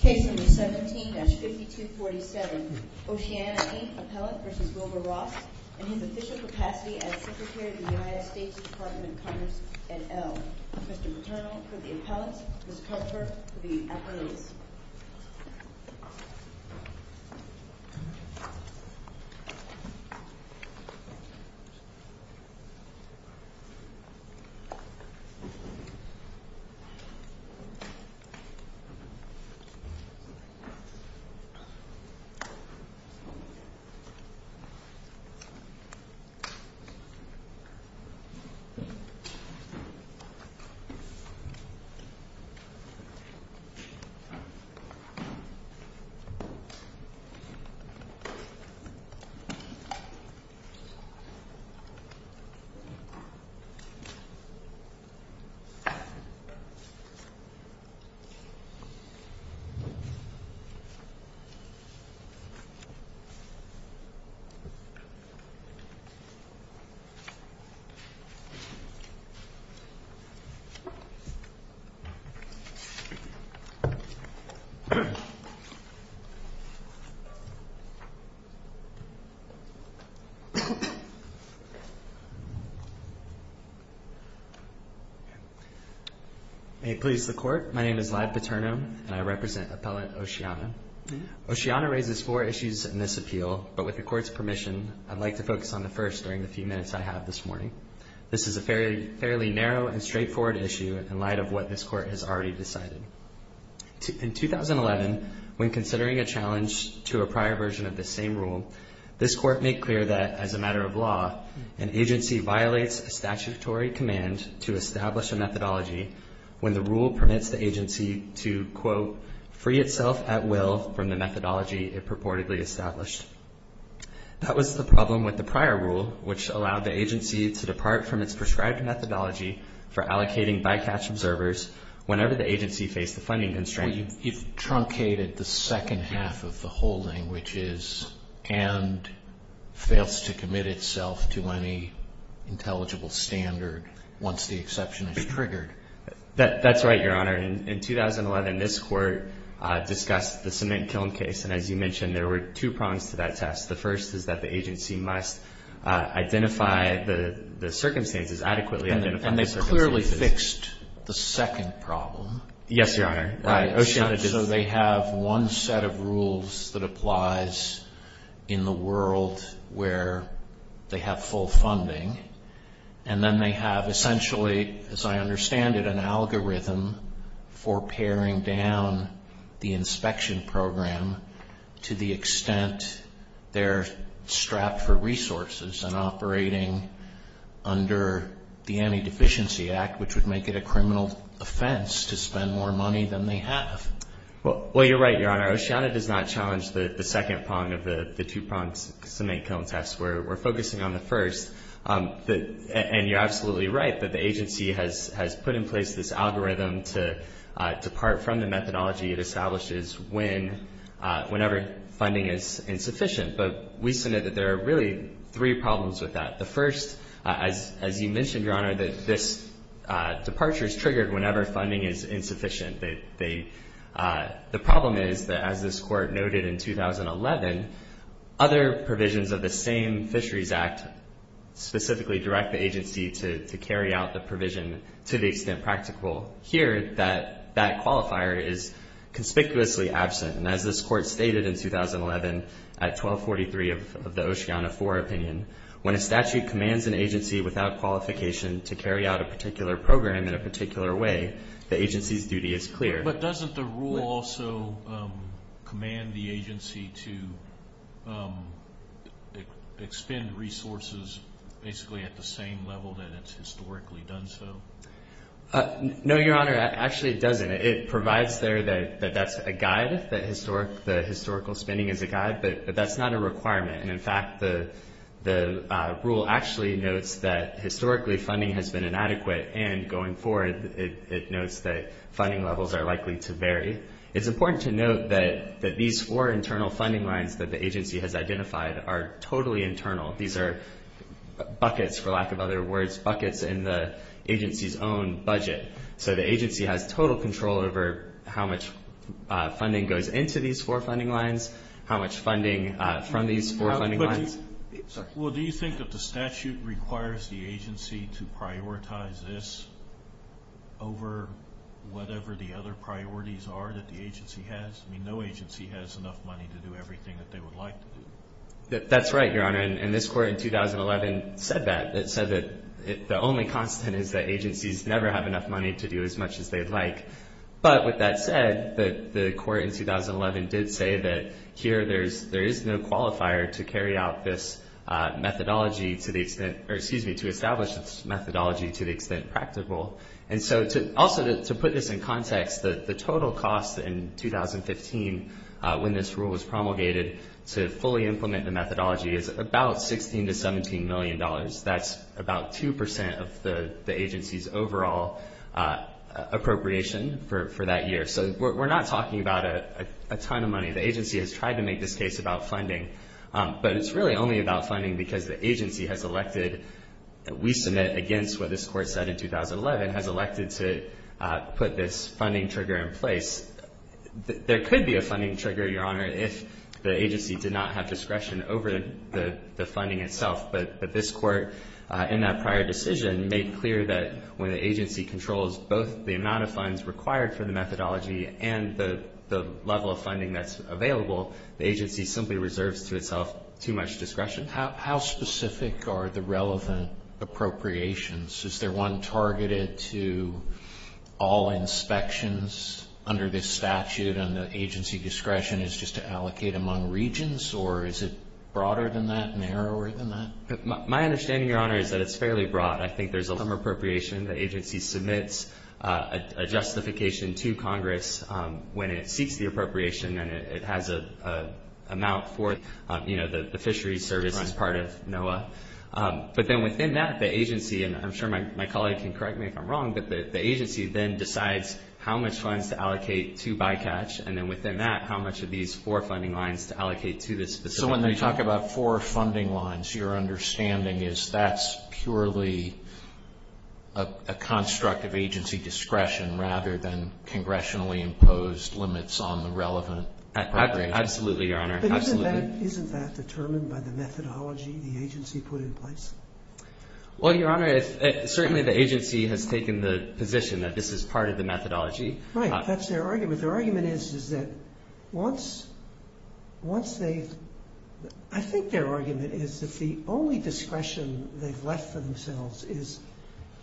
Case number 17-5247. Oceana, Inc. Appellant v. Wilbur Ross and his official capacity as Secretary of the United States Department of Commerce et al. Mr. Paterno for the Appellants, Ms. Kupfer for the Appellants. Mr. Paterno. Mr. Paterno. Mr. Paterno. May it please the Court, my name is Lyle Paterno and I represent Appellant Oceana. Oceana raises four issues in this appeal, but with the Court's permission, I'd like to focus on the first during the few minutes I have this morning. This is a fairly narrow and straightforward issue in light of what this Court has already decided. In 2011, when considering a challenge to a prior version of this same rule, this Court made clear that, as a matter of law, an agency violates a statutory command to establish a methodology when the rule permits the agency to, quote, free itself at will from the methodology it purportedly established. That was the problem with the prior rule, which allowed the agency to depart from its prescribed methodology for allocating bycatch observers whenever the agency faced a funding constraint. You've truncated the second half of the whole thing, which is and fails to commit itself to any intelligible standard once the exception is triggered. That's right, Your Honor. In 2011, this Court discussed the cement kiln case, and as you mentioned, there were two prongs to that test. The first is that the agency must identify the circumstances, adequately identify the circumstances. And they clearly fixed the second problem. Yes, Your Honor. So they have one set of rules that applies in the world where they have full funding, and then they have essentially, as I understand it, an algorithm for paring down the inspection program to the extent they're strapped for resources and operating under the Anti-Deficiency Act, which would make it a criminal offense to spend more money than they have. Well, you're right, Your Honor. Oceana does not challenge the second prong of the two-pronged cement kiln test. We're focusing on the first. And you're absolutely right that the agency has put in place this algorithm to depart from the methodology it establishes whenever funding is insufficient. But we submit that there are really three problems with that. The first, as you mentioned, Your Honor, that this departure is triggered whenever funding is insufficient. The problem is that, as this Court noted in 2011, other provisions of the same Fisheries Act specifically direct the agency to carry out the provision to the extent practical here that that qualifier is conspicuously absent. And as this Court stated in 2011 at 1243 of the Oceana IV opinion, when a statute commands an agency without qualification to carry out a particular program in a particular way, the agency's duty is clear. But doesn't the rule also command the agency to expend resources basically at the same level that it's historically done so? No, Your Honor. Actually, it doesn't. It provides there that that's a guide, that historical spending is a guide, but that's not a requirement. And, in fact, the rule actually notes that historically funding has been inadequate, and going forward it notes that funding levels are likely to vary. It's important to note that these four internal funding lines that the agency has identified are totally internal. These are buckets, for lack of other words, buckets in the agency's own budget. So the agency has total control over how much funding goes into these four funding lines, how much funding from these four funding lines. Well, do you think that the statute requires the agency to prioritize this over whatever the other priorities are that the agency has? I mean, no agency has enough money to do everything that they would like to do. That's right, Your Honor. And this Court in 2011 said that. The only constant is that agencies never have enough money to do as much as they'd like. But with that said, the Court in 2011 did say that here there is no qualifier to carry out this methodology to the extent, or excuse me, to establish this methodology to the extent practical. And so also to put this in context, the total cost in 2015 when this rule was promulgated to fully implement the methodology is about $16 to $17 million. That's about 2 percent of the agency's overall appropriation for that year. So we're not talking about a ton of money. The agency has tried to make this case about funding. But it's really only about funding because the agency has elected that we submit against what this Court said in 2011, has elected to put this funding trigger in place. There could be a funding trigger, Your Honor, if the agency did not have discretion over the funding itself. But this Court in that prior decision made clear that when the agency controls both the amount of funds required for the methodology and the level of funding that's available, the agency simply reserves to itself too much discretion. How specific are the relevant appropriations? Is there one targeted to all inspections under this statute and the agency discretion is just to allocate among regions? Or is it broader than that, narrower than that? My understanding, Your Honor, is that it's fairly broad. I think there's some appropriation. The agency submits a justification to Congress when it seeks the appropriation, and it has an amount for, you know, the fisheries service as part of NOAA. But then within that, the agency, and I'm sure my colleague can correct me if I'm wrong, but the agency then decides how much funds to allocate to bycatch, and then within that, how much of these four funding lines to allocate to this specific action. So when you talk about four funding lines, your understanding is that's purely a construct of agency discretion rather than congressionally imposed limits on the relevant appropriations? Absolutely, Your Honor. But isn't that determined by the methodology the agency put in place? Well, Your Honor, certainly the agency has taken the position that this is part of the methodology. Right, that's their argument. Their argument is that once they've – I think their argument is that the only discretion they've left for themselves is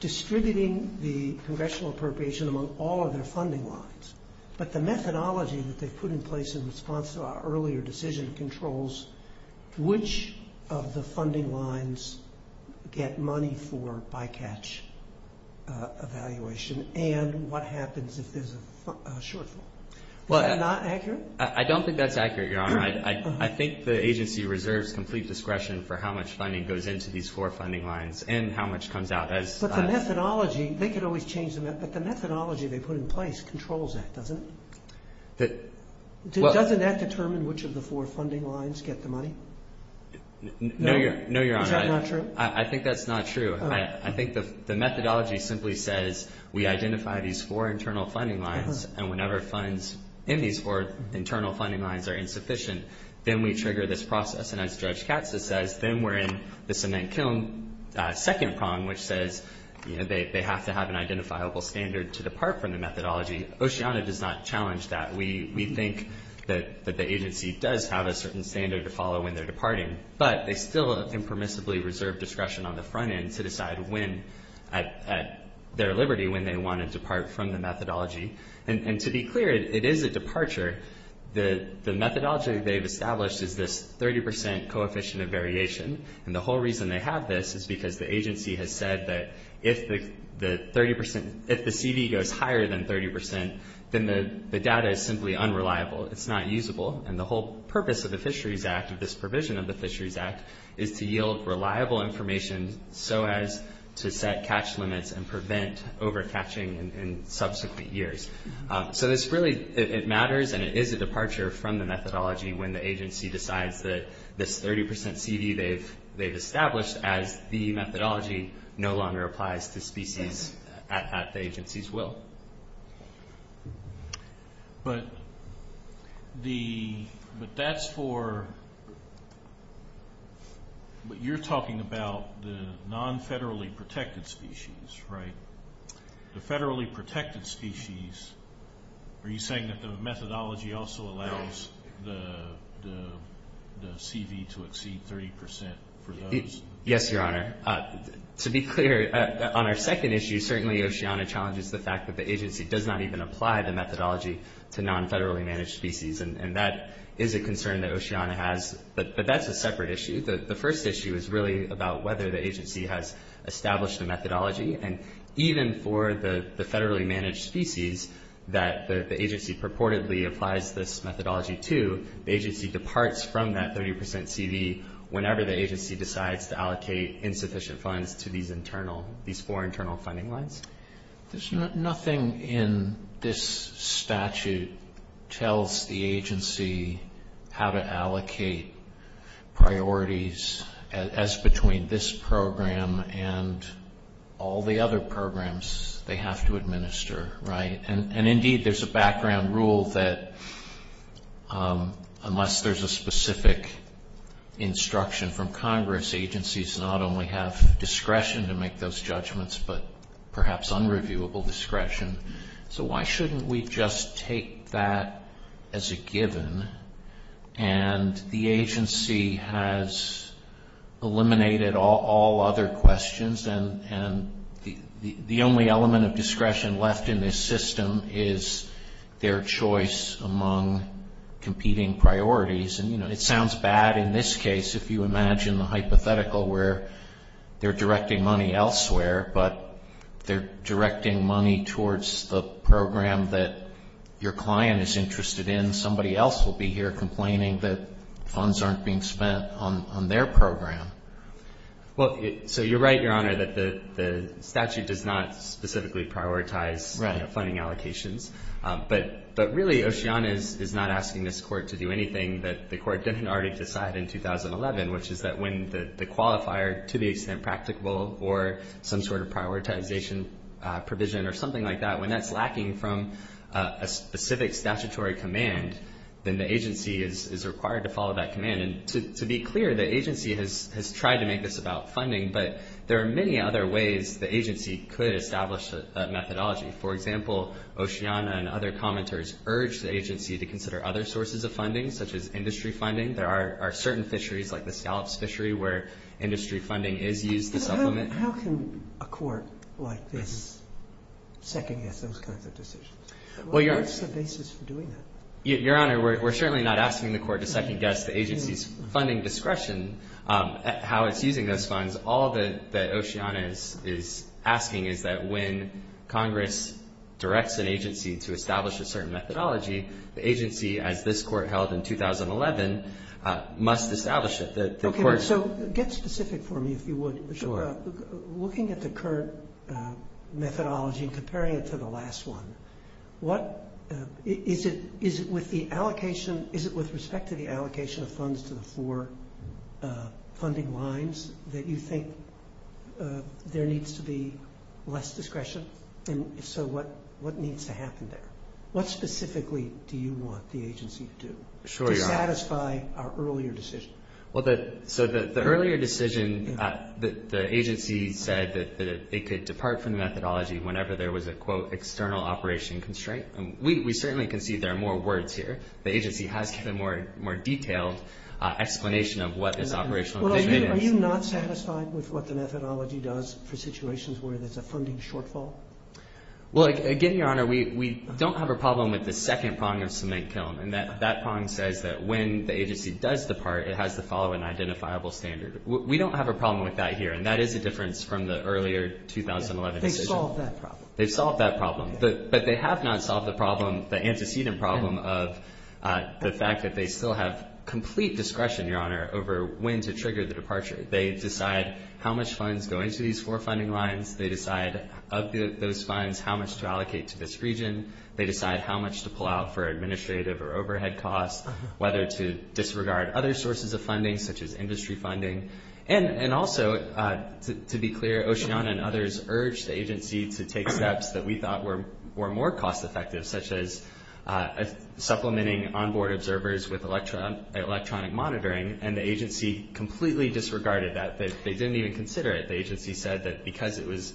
distributing the congressional appropriation among all of their funding lines. But the methodology that they've put in place in response to our earlier decision controls which of the funding lines get money for bycatch evaluation and what happens if there's a shortfall. Is that not accurate? I don't think that's accurate, Your Honor. I think the agency reserves complete discretion for how much funding goes into these four funding lines and how much comes out. But the methodology – they could always change them, but the methodology they put in place controls that, doesn't it? Doesn't that determine which of the four funding lines get the money? No, Your Honor. Is that not true? I think that's not true. I think the methodology simply says we identify these four internal funding lines and whenever funds in these four internal funding lines are insufficient, then we trigger this process. And as Judge Katza says, then we're in the cement kiln second prong, which says they have to have an identifiable standard to depart from the methodology. Oceana does not challenge that. We think that the agency does have a certain standard to follow when they're departing. But they still impermissibly reserve discretion on the front end to decide at their liberty when they want to depart from the methodology. And to be clear, it is a departure. The methodology they've established is this 30% coefficient of variation. And the whole reason they have this is because the agency has said that if the CV goes higher than 30%, then the data is simply unreliable. It's not usable. And the whole purpose of the Fisheries Act, of this provision of the Fisheries Act, is to yield reliable information so as to set catch limits and prevent over-catching in subsequent years. So this really, it matters, and it is a departure from the methodology when the agency decides that this 30% CV they've established, as the methodology no longer applies to species at the agency's will. But that's for, but you're talking about the non-federally protected species, right? The federally protected species, are you saying that the methodology also allows the CV to exceed 30% for those? Yes, Your Honor. To be clear, on our second issue, certainly Oceana challenges the fact that the agency does not even apply the methodology to non-federally managed species, and that is a concern that Oceana has. But that's a separate issue. And even for the federally managed species that the agency purportedly applies this methodology to, the agency departs from that 30% CV whenever the agency decides to allocate insufficient funds to these internal, these four internal funding lines. There's nothing in this statute tells the agency how to allocate priorities as between this program and all the other programs they have to administer, right? And indeed, there's a background rule that unless there's a specific instruction from Congress, agencies not only have discretion to make those judgments, but perhaps unreviewable discretion. So why shouldn't we just take that as a given? And the agency has eliminated all other questions, and the only element of discretion left in this system is their choice among competing priorities. And, you know, it sounds bad in this case if you imagine the hypothetical where they're directing money elsewhere, but they're directing money towards the program that your client is interested in. Somebody else will be here complaining that funds aren't being spent on their program. Well, so you're right, Your Honor, that the statute does not specifically prioritize funding allocations. But really, Oceana is not asking this court to do anything that the court didn't already decide in 2011, which is that when the qualifier, to the extent practicable, or some sort of prioritization provision or something like that, when that's lacking from a specific statutory command, then the agency is required to follow that command. And to be clear, the agency has tried to make this about funding, but there are many other ways the agency could establish that methodology. For example, Oceana and other commenters urge the agency to consider other sources of funding, such as industry funding. There are certain fisheries, like the scallops fishery, where industry funding is used to supplement. How can a court like this second-guess those kinds of decisions? What's the basis for doing that? Your Honor, we're certainly not asking the court to second-guess the agency's funding discretion, how it's using those funds. All that Oceana is asking is that when Congress directs an agency to establish a certain methodology, the agency, as this court held in 2011, must establish it. So get specific for me, if you would. Sure. Looking at the current methodology and comparing it to the last one, is it with respect to the allocation of funds to the four funding lines that you think there needs to be less discretion? And so what needs to happen there? What specifically do you want the agency to do to satisfy our earlier decision? So the earlier decision, the agency said that it could depart from the methodology whenever there was a, quote, external operation constraint. We certainly can see there are more words here. The agency has given a more detailed explanation of what this operational inconvenience is. Are you not satisfied with what the methodology does for situations where there's a funding shortfall? Well, again, Your Honor, we don't have a problem with the second prong of cement kiln, and that prong says that when the agency does depart, it has to follow an identifiable standard. We don't have a problem with that here, and that is a difference from the earlier 2011 decision. They've solved that problem. They've solved that problem. But they have not solved the problem, the antecedent problem, of the fact that they still have complete discretion, Your Honor, over when to trigger the departure. They decide how much funds go into these four funding lines. They decide of those funds how much to allocate to this region. They decide how much to pull out for administrative or overhead costs, whether to disregard other sources of funding, such as industry funding. And also, to be clear, Oceana and others urged the agency to take steps that we thought were more cost effective, such as supplementing onboard observers with electronic monitoring, and the agency completely disregarded that. They didn't even consider it. The agency said that because it was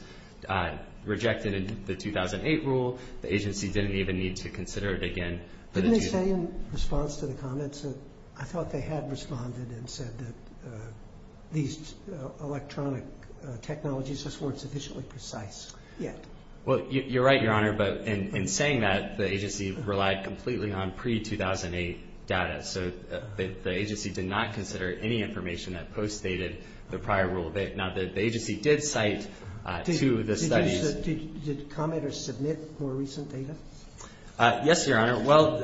rejected in the 2008 rule, the agency didn't even need to consider it again. Didn't they say in response to the comments that I thought they had responded and said that these electronic technologies just weren't sufficiently precise yet? Well, you're right, Your Honor, but in saying that, the agency relied completely on pre-2008 data. So the agency did not consider any information that postdated the prior rule. Now, the agency did cite two of the studies. Did commenters submit more recent data? Yes, Your Honor. Well,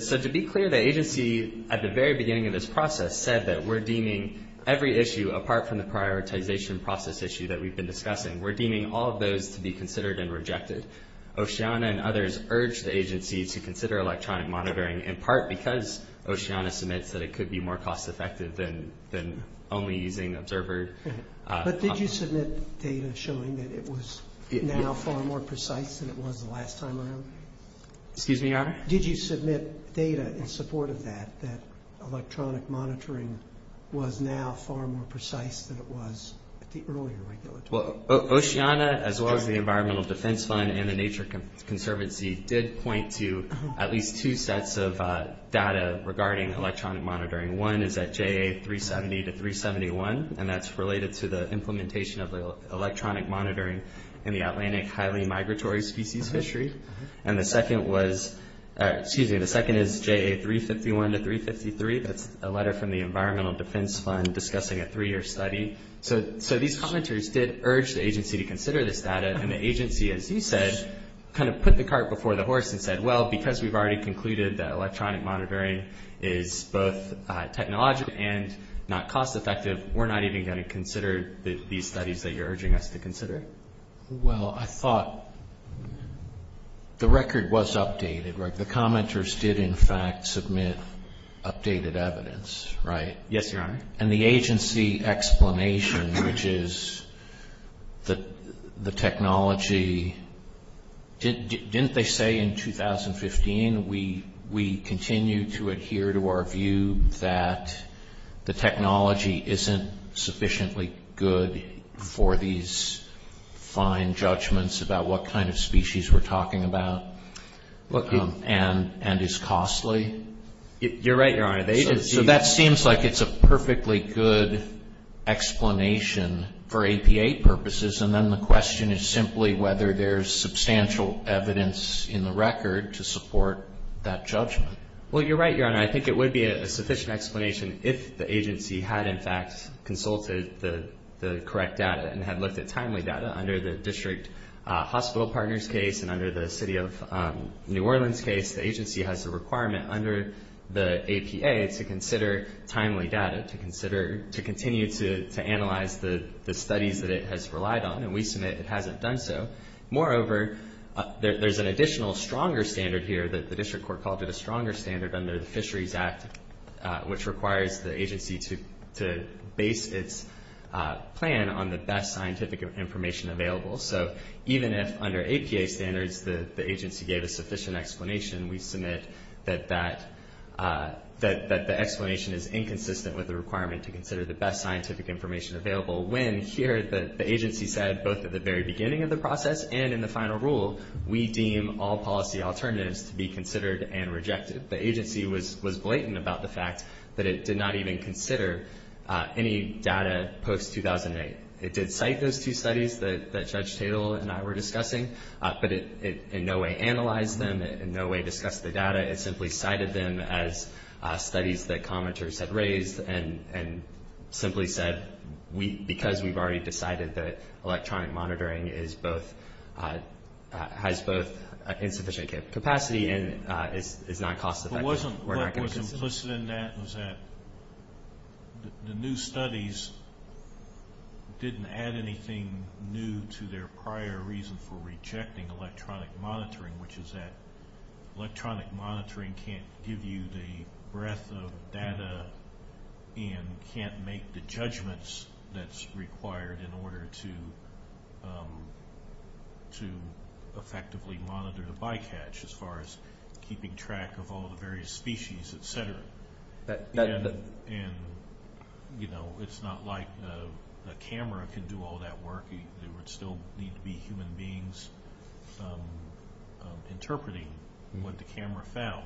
so to be clear, the agency at the very beginning of this process said that we're deeming every issue, apart from the prioritization process issue that we've been discussing, we're deeming all of those to be considered and rejected. Oceana and others urged the agency to consider electronic monitoring, in part because Oceana submits that it could be more cost effective than only using observer. But did you submit data showing that it was now far more precise than it was the last time around? Excuse me, Your Honor? Did you submit data in support of that, that electronic monitoring was now far more precise than it was at the earlier regulatory? Well, Oceana, as well as the Environmental Defense Fund and the Nature Conservancy, did point to at least two sets of data regarding electronic monitoring. One is at JA370 to 371, and that's related to the implementation of electronic monitoring in the Atlantic highly migratory species fishery. And the second was, excuse me, the second is JA351 to 353. That's a letter from the Environmental Defense Fund discussing a three-year study. So these commenters did urge the agency to consider this data, and the agency, as you said, kind of put the cart before the horse and said, well, because we've already concluded that electronic monitoring is both technological and not cost effective, we're not even going to consider these studies that you're urging us to consider? Well, I thought the record was updated, right? The commenters did, in fact, submit updated evidence, right? Yes, Your Honor. And the agency explanation, which is the technology, didn't they say in 2015, we continue to adhere to our view that the technology isn't sufficiently good for these fine judgments about what kind of species we're talking about and is costly? You're right, Your Honor. So that seems like it's a perfectly good explanation for APA purposes, and then the question is simply whether there's substantial evidence in the record to support that judgment. Well, you're right, Your Honor. I think it would be a sufficient explanation if the agency had, in fact, consulted the correct data and had looked at timely data under the District Hospital Partners case and under the City of New Orleans case. The agency has a requirement under the APA to consider timely data, to continue to analyze the studies that it has relied on, and we submit it hasn't done so. Moreover, there's an additional stronger standard here that the District Court called it a stronger standard under the Fisheries Act, which requires the agency to base its plan on the best scientific information available. So even if under APA standards the agency gave a sufficient explanation, we submit that the explanation is inconsistent with the requirement to consider the best scientific information available, when here the agency said both at the very beginning of the process and in the final rule, we deem all policy alternatives to be considered and rejected. The agency was blatant about the fact that it did not even consider any data post-2008. It did cite those two studies that Judge Tatel and I were discussing, but it in no way analyzed them, it in no way discussed the data, it simply cited them as studies that commenters had raised and simply said because we've already decided that electronic monitoring has both insufficient capacity and is not cost-effective, we're not going to consider it. What was implicit in that was that the new studies didn't add anything new to their prior reason for rejecting electronic monitoring, which is that electronic monitoring can't give you the breadth of data and can't make the judgments that's required in order to effectively monitor the bycatch, as far as keeping track of all the various species, et cetera. And, you know, it's not like the camera can do all that work. There would still need to be human beings interpreting what the camera found.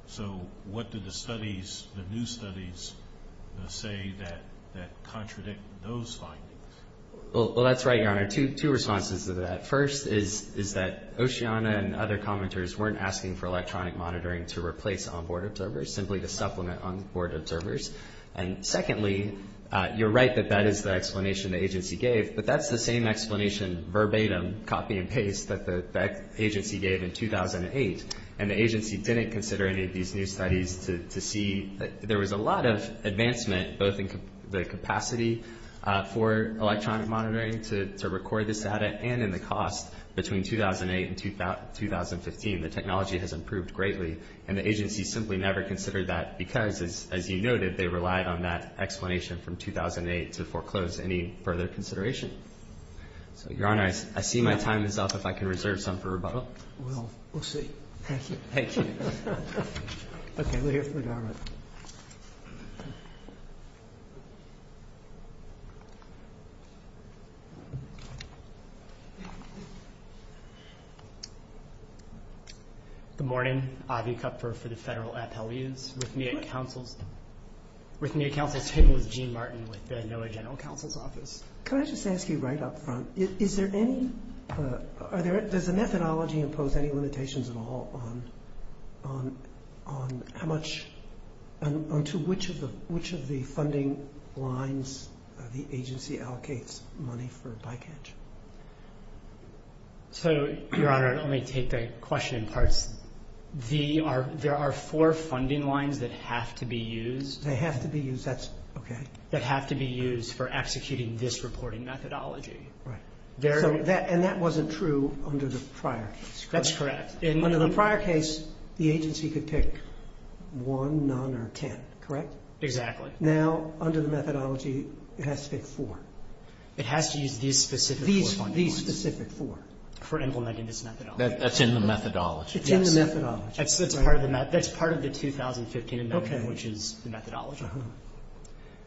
So what did the studies, the new studies say that contradict those findings? Well, that's right, Your Honor. Two responses to that. First is that Oceana and other commenters weren't asking for electronic monitoring to replace onboard observers, simply to supplement onboard observers. And secondly, you're right that that is the explanation the agency gave, but that's the same explanation verbatim, copy and paste, that the agency gave in 2008, and the agency didn't consider any of these new studies to see that there was a lot of advancement, both in the capacity for electronic monitoring to record this data and in the cost between 2008 and 2015. The technology has improved greatly, and the agency simply never considered that because, as you noted, they relied on that explanation from 2008 to foreclose any further consideration. So, Your Honor, I see my time is up. If I can reserve some for rebuttal. Well, we'll see. Thank you. Thank you. Okay, we'll hear from the government. Good morning. Avi Kupfer for the Federal Appellees. With me at counsel's table is Gene Martin with the NOAA General Counsel's Office. Can I just ask you right up front, is there any – does the methodology impose any limitations at all on how much – on to which of the funding lines the agency allocates money for bycatch? So, Your Honor, let me take the question in parts. There are four funding lines that have to be used. They have to be used. That's – okay. That have to be used for executing this reporting methodology. Right. And that wasn't true under the prior case, correct? That's correct. Under the prior case, the agency could pick one, none, or ten, correct? Exactly. Now, under the methodology, it has to pick four. It has to use these specific four funding lines. These specific four for implementing this methodology. That's in the methodology. It's in the methodology. That's part of the – that's part of the 2015 amendment, which is the methodology.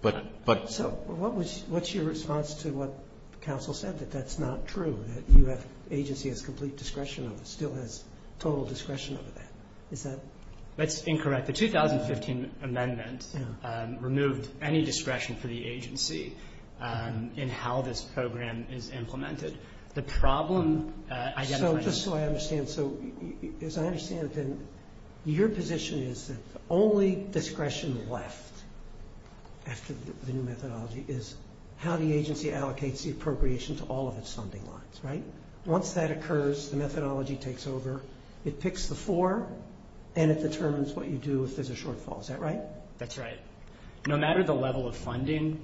But – but – So, what was – what's your response to what counsel said, that that's not true, that you have – agency has complete discretion of it, still has total discretion over that? Is that – That's incorrect. The 2015 amendment removed any discretion for the agency in how this program is implemented. The problem identified – after the new methodology is how the agency allocates the appropriation to all of its funding lines, right? Once that occurs, the methodology takes over, it picks the four, and it determines what you do if there's a shortfall. Is that right? That's right. No matter the level of funding,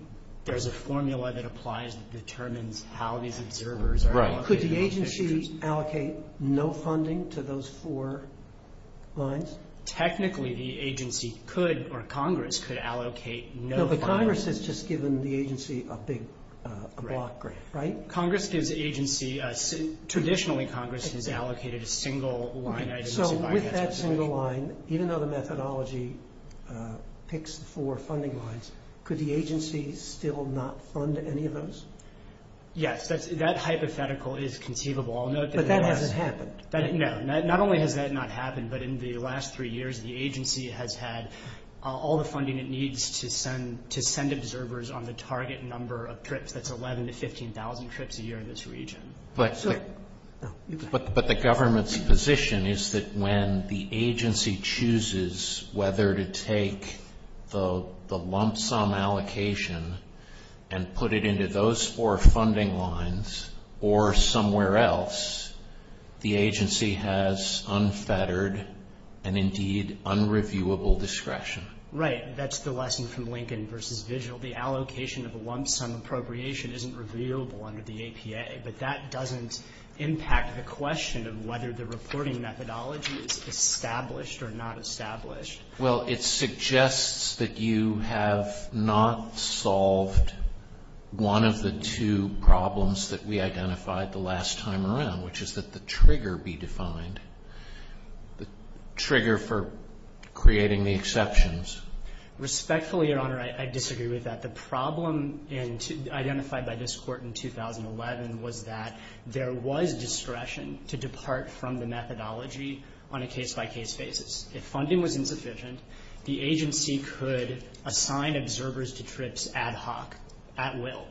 there's a formula that applies that determines how these observers are allocated. Right. Could the agency allocate no funding to those four lines? Technically, the agency could, or Congress, could allocate no funding. No, but Congress has just given the agency a big block grant, right? Congress gives agency – traditionally, Congress has allocated a single line item to buy – So, with that single line, even though the methodology picks the four funding lines, could the agency still not fund any of those? Yes, that's – that hypothetical is conceivable. I'll note that – But that hasn't happened. No, not only has that not happened, but in the last three years, the agency has had all the funding it needs to send observers on the target number of trips. That's 11,000 to 15,000 trips a year in this region. But the government's position is that when the agency chooses whether to take the lump sum allocation and put it into those four funding lines or somewhere else, the agency has unfettered and, indeed, unreviewable discretion. Right. That's the lesson from Lincoln versus Vigil. The allocation of a lump sum appropriation isn't reviewable under the APA, but that doesn't impact the question of whether the reporting methodology is established or not established. Well, it suggests that you have not solved one of the two problems that we identified the last time around, which is that the trigger be defined, the trigger for creating the exceptions. Respectfully, Your Honor, I disagree with that. The problem identified by this Court in 2011 was that there was discretion to depart from the methodology on a case-by-case basis. If funding was insufficient, the agency could assign observers to trips ad hoc, at will.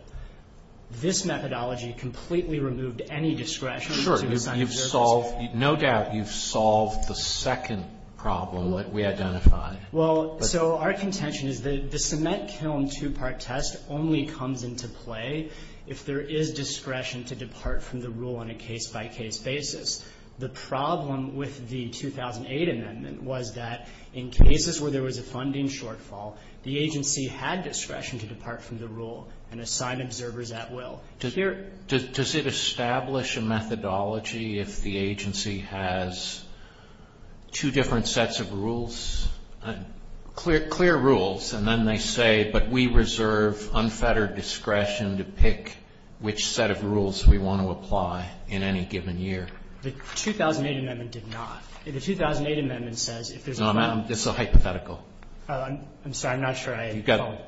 This methodology completely removed any discretion to assign observers. Sure. You've solved, no doubt, you've solved the second problem that we identified. Well, so our contention is that the cement kiln two-part test only comes into play if there is discretion to depart from the rule on a case-by-case basis. The problem with the 2008 amendment was that in cases where there was a funding shortfall, the agency had discretion to depart from the rule and assign observers at will. Does it establish a methodology if the agency has two different sets of rules? Clear rules, and then they say, but we reserve unfettered discretion to pick which set of rules we want to apply in any given year. The 2008 amendment did not. The 2008 amendment says if there's a problem. No, this is a hypothetical. I'm sorry. I'm not sure I followed.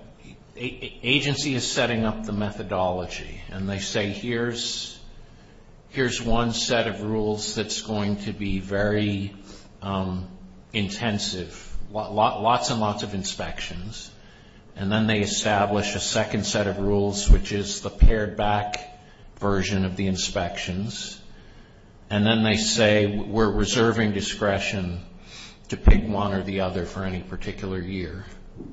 Agency is setting up the methodology, and they say, here's one set of rules that's going to be very intensive, lots and lots of inspections, and then they establish a second set of rules, which is the pared-back version of the inspections, and then they say we're reserving discretion to pick one or the other for any particular year.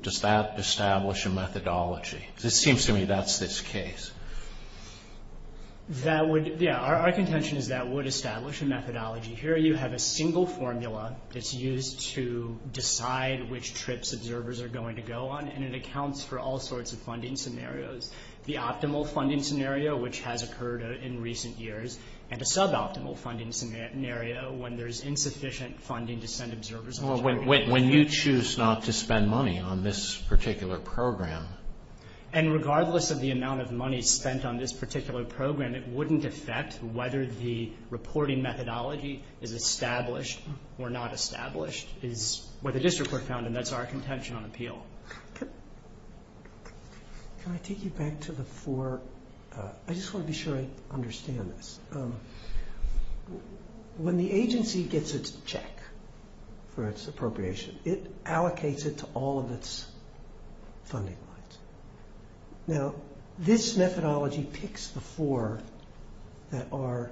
Does that establish a methodology? Because it seems to me that's this case. Yeah, our contention is that would establish a methodology. Here you have a single formula that's used to decide which trips observers are going to go on, and it accounts for all sorts of funding scenarios. The optimal funding scenario, which has occurred in recent years, and a suboptimal funding scenario when there's insufficient funding to send observers on a trip. When you choose not to spend money on this particular program. And regardless of the amount of money spent on this particular program, it wouldn't affect whether the reporting methodology is established or not established, is what the district court found, and that's our contention on appeal. Can I take you back to the four? I just want to be sure I understand this. When the agency gets its check for its appropriation, it allocates it to all of its funding lines. Now, this methodology picks the four that are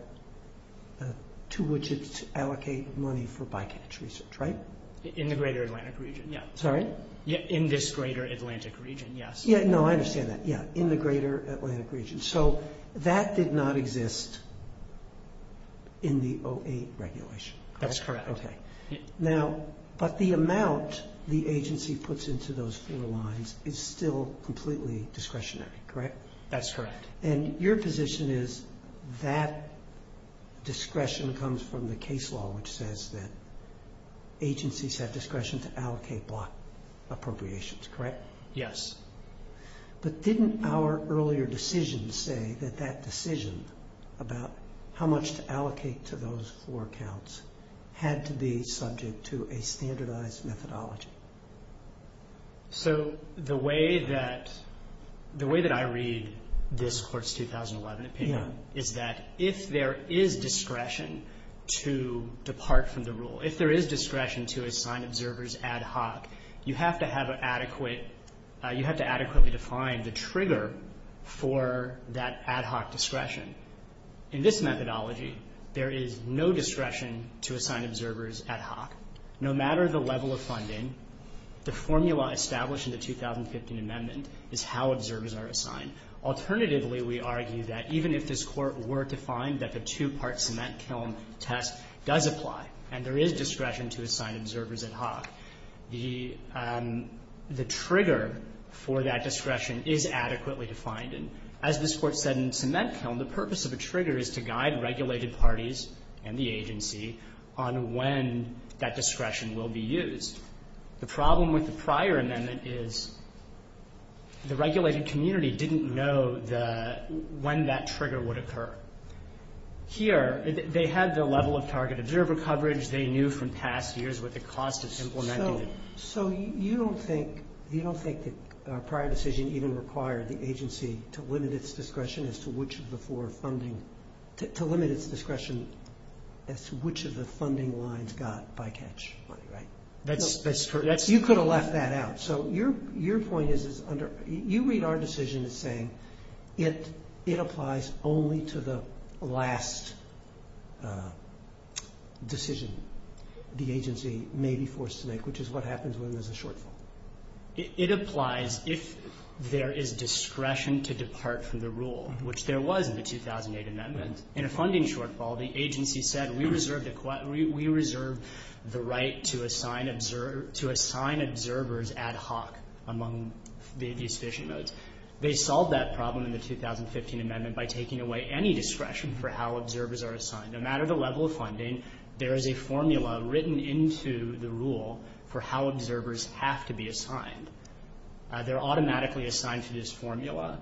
two widgets to allocate money for bycatch research, right? In the greater Atlantic region, yeah. Sorry? In this greater Atlantic region, yes. Yeah, no, I understand that. Yeah, in the greater Atlantic region. So that did not exist in the 08 regulation. That's correct. Okay. Now, but the amount the agency puts into those four lines is still completely discretionary, correct? That's correct. And your position is that discretion comes from the case law, which says that agencies have discretion to allocate block appropriations, correct? Yes. But didn't our earlier decision say that that decision about how much to allocate to those four accounts had to be subject to a standardized methodology? So the way that I read this Court's 2011 opinion is that if there is discretion to depart from the rule, if there is discretion to assign observers ad hoc, you have to adequately define the trigger for that ad hoc discretion. In this methodology, there is no discretion to assign observers ad hoc. No matter the level of funding, the formula established in the 2015 amendment is how observers are assigned. Alternatively, we argue that even if this Court were to find that the two-part cement kiln test does apply and there is discretion to assign observers ad hoc, the trigger for that discretion is adequately defined. And as this Court said in cement kiln, the purpose of a trigger is to guide regulated parties and the agency on when that discretion will be used. The problem with the prior amendment is the regulated community didn't know the – when that trigger would occur. Here, they had the level of target observer coverage. They knew from past years what the cost of implementing it was. Our prior decision even required the agency to limit its discretion as to which of the four funding – to limit its discretion as to which of the funding lines got bycatch money, right? That's correct. You could have left that out. So your point is under – you read our decision as saying it applies only to the last decision the agency may be forced to make, which is what happens when there's a shortfall. It applies if there is discretion to depart from the rule, which there was in the 2008 amendment. In a funding shortfall, the agency said we reserved the right to assign observers ad hoc among the sufficient modes. They solved that problem in the 2015 amendment by taking away any discretion for how observers are assigned. No matter the level of funding, there is a formula written into the rule for how observers have to be assigned. They're automatically assigned to this formula,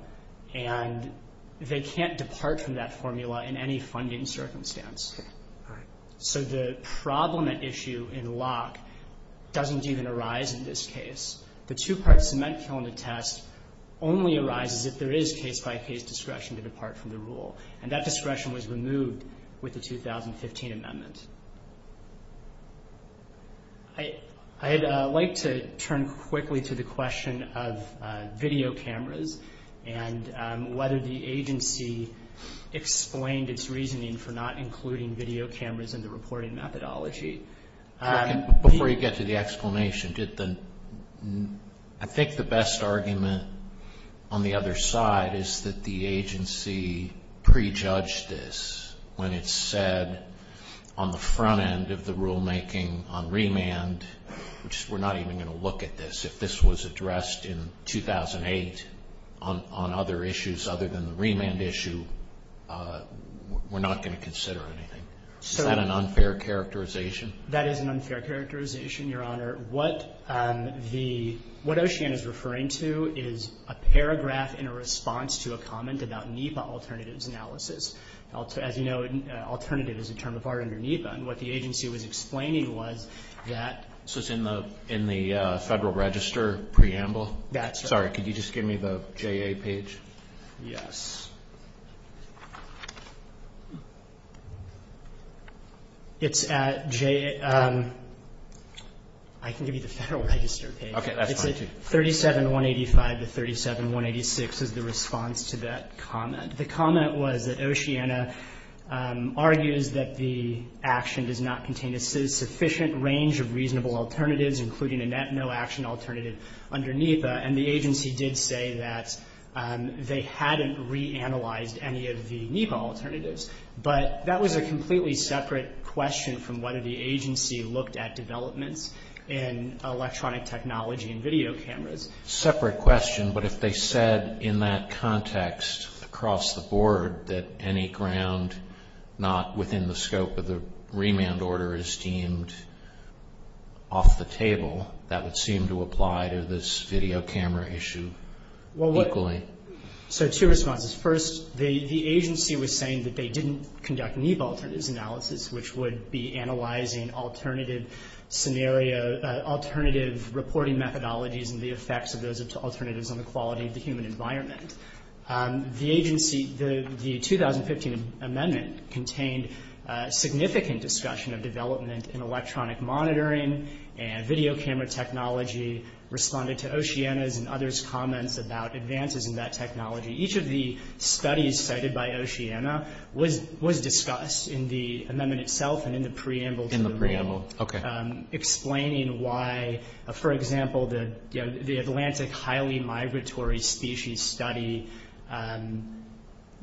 and they can't depart from that formula in any funding circumstance. So the problem at issue in Locke doesn't even arise in this case. The two-part cement kiln to test only arises if there is case-by-case discretion to depart from the rule, and that discretion was removed with the 2015 amendment. I'd like to turn quickly to the question of video cameras and whether the agency explained its reasoning for not including video cameras in the reporting methodology. Before you get to the explanation, I think the best argument on the other side is that the agency prejudged this when it said on the front end of the rulemaking on remand, which we're not even going to look at this, if this was addressed in 2008 on other issues other than the remand issue, we're not going to consider anything. Is that an unfair characterization? That is an unfair characterization, Your Honor. What OCEAN is referring to is a paragraph in a response to a comment about NEPA alternatives analysis. As you know, alternative is a term of art under NEPA, and what the agency was explaining was that- So it's in the Federal Register preamble? That's right. Sorry, could you just give me the JA page? Yes. It's at J- I can give you the Federal Register page. Okay, that's fine too. It's at 37185 to 37186 is the response to that comment. The comment was that OCEAN argues that the action does not contain a sufficient range of reasonable alternatives, including a net no action alternative under NEPA, and the agency did say that they hadn't reanalyzed any of the NEPA alternatives, but that was a completely separate question from whether the agency looked at developments in electronic technology and video cameras. Separate question, but if they said in that context across the board that any ground not within the scope of the remand order is deemed off the table, that would seem to apply to this video camera issue equally. So two responses. First, the agency was saying that they didn't conduct NEPA alternatives analysis, which would be analyzing alternative scenario-alternative reporting methodologies and the effects of those alternatives on the quality of the human environment. The agency, the 2015 amendment contained significant discussion of development in electronic monitoring and video camera technology responded to OCEANA's and others' comments about advances in that technology. Each of the studies cited by OCEANA was discussed in the amendment itself and in the preamble to the remand. In the preamble. Okay. Explaining why, for example, the Atlantic highly migratory species study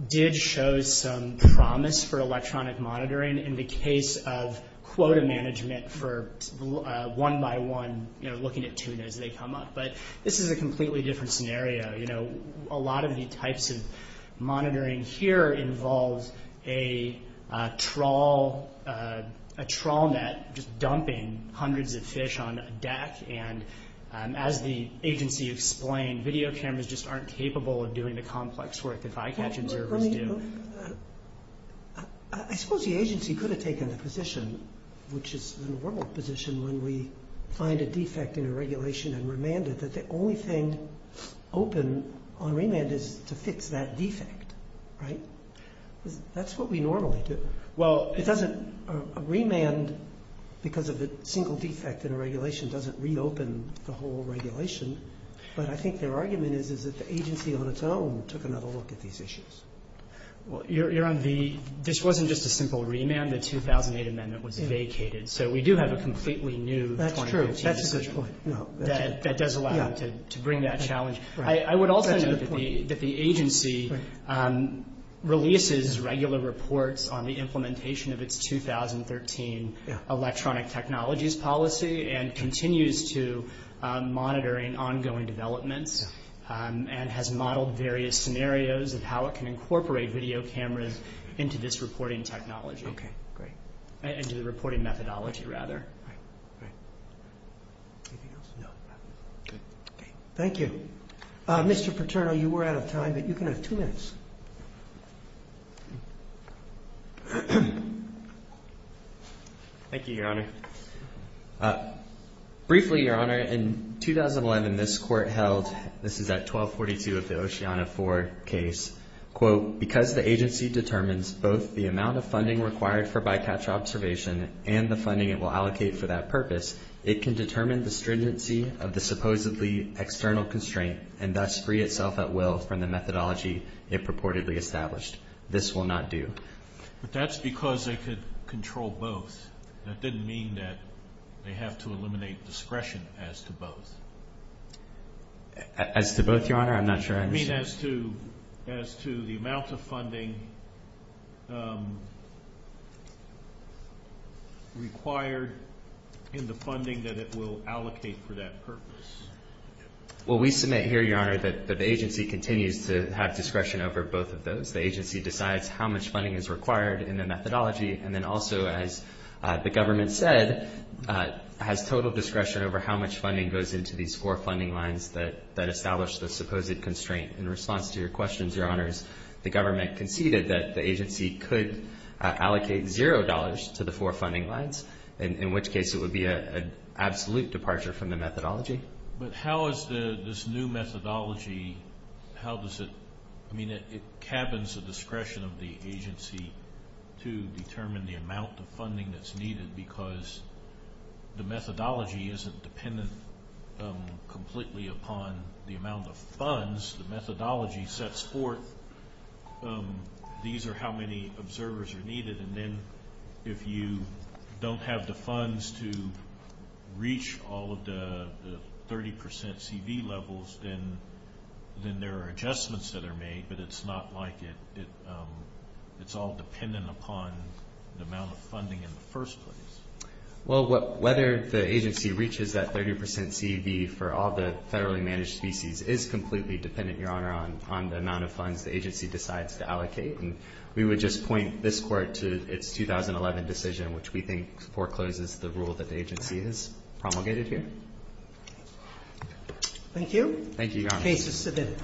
did show some promise for electronic monitoring in the case of quota management for one-by-one looking at tuna as they come up. But this is a completely different scenario. You know, a lot of the types of monitoring here involves a trawl net just dumping hundreds of fish on a deck and as the agency explained, video cameras just aren't capable of doing the complex work that eye-catch observers do. I suppose the agency could have taken the position, which is the normal position when we find a defect in a regulation and remanded that the only thing open on remand is to fix that defect, right? That's what we normally do. Well, it doesn't remand because of a single defect in a regulation doesn't reopen the whole regulation. But I think their argument is that the agency on its own took another look at these issues. Well, Your Honor, this wasn't just a simple remand. The 2008 amendment was vacated. That's true. That's a good point. That does allow them to bring that challenge. I would also note that the agency releases regular reports on the implementation of its 2013 electronic technologies policy and continues to monitor in ongoing developments and has modeled various scenarios of how it can incorporate video cameras into this reporting technology. Okay, great. Into the reporting methodology, rather. Anything else? No. Good. Thank you. Mr. Paterno, you were out of time, but you can have two minutes. Thank you, Your Honor. Briefly, Your Honor, in 2011, this Court held, this is at 1242 of the Oceana IV case, quote, because the agency determines both the amount of funding required for bycatch observation and the funding it will allocate for that purpose, it can determine the stringency of the supposedly external constraint and thus free itself at will from the methodology it purportedly established. This will not do. But that's because they could control both. That didn't mean that they have to eliminate discretion as to both. As to both, Your Honor? I'm not sure I understand. As to the amount of funding required in the funding that it will allocate for that purpose. Well, we submit here, Your Honor, that the agency continues to have discretion over both of those. The agency decides how much funding is required in the methodology and then also, as the government said, has total discretion over how much funding goes into these four funding lines that establish the supposed constraint. In response to your questions, Your Honors, the government conceded that the agency could allocate zero dollars to the four funding lines, in which case it would be an absolute departure from the methodology. But how is this new methodology, how does it, I mean, it cabins the discretion of the agency to determine the amount of funding that's needed because the methodology isn't dependent completely upon the amount of funds. The methodology sets forth these are how many observers are needed. And then if you don't have the funds to reach all of the 30% CV levels, then there are adjustments that are made, but it's not like it's all dependent upon the amount of funding in the first place. Well, whether the agency reaches that 30% CV for all the federally managed species is completely dependent, Your Honor, on the amount of funds the agency decides to allocate. And we would just point this Court to its 2011 decision, which we think forecloses the rule that the agency has promulgated here. Thank you. Thank you, Your Honor. Case is submitted.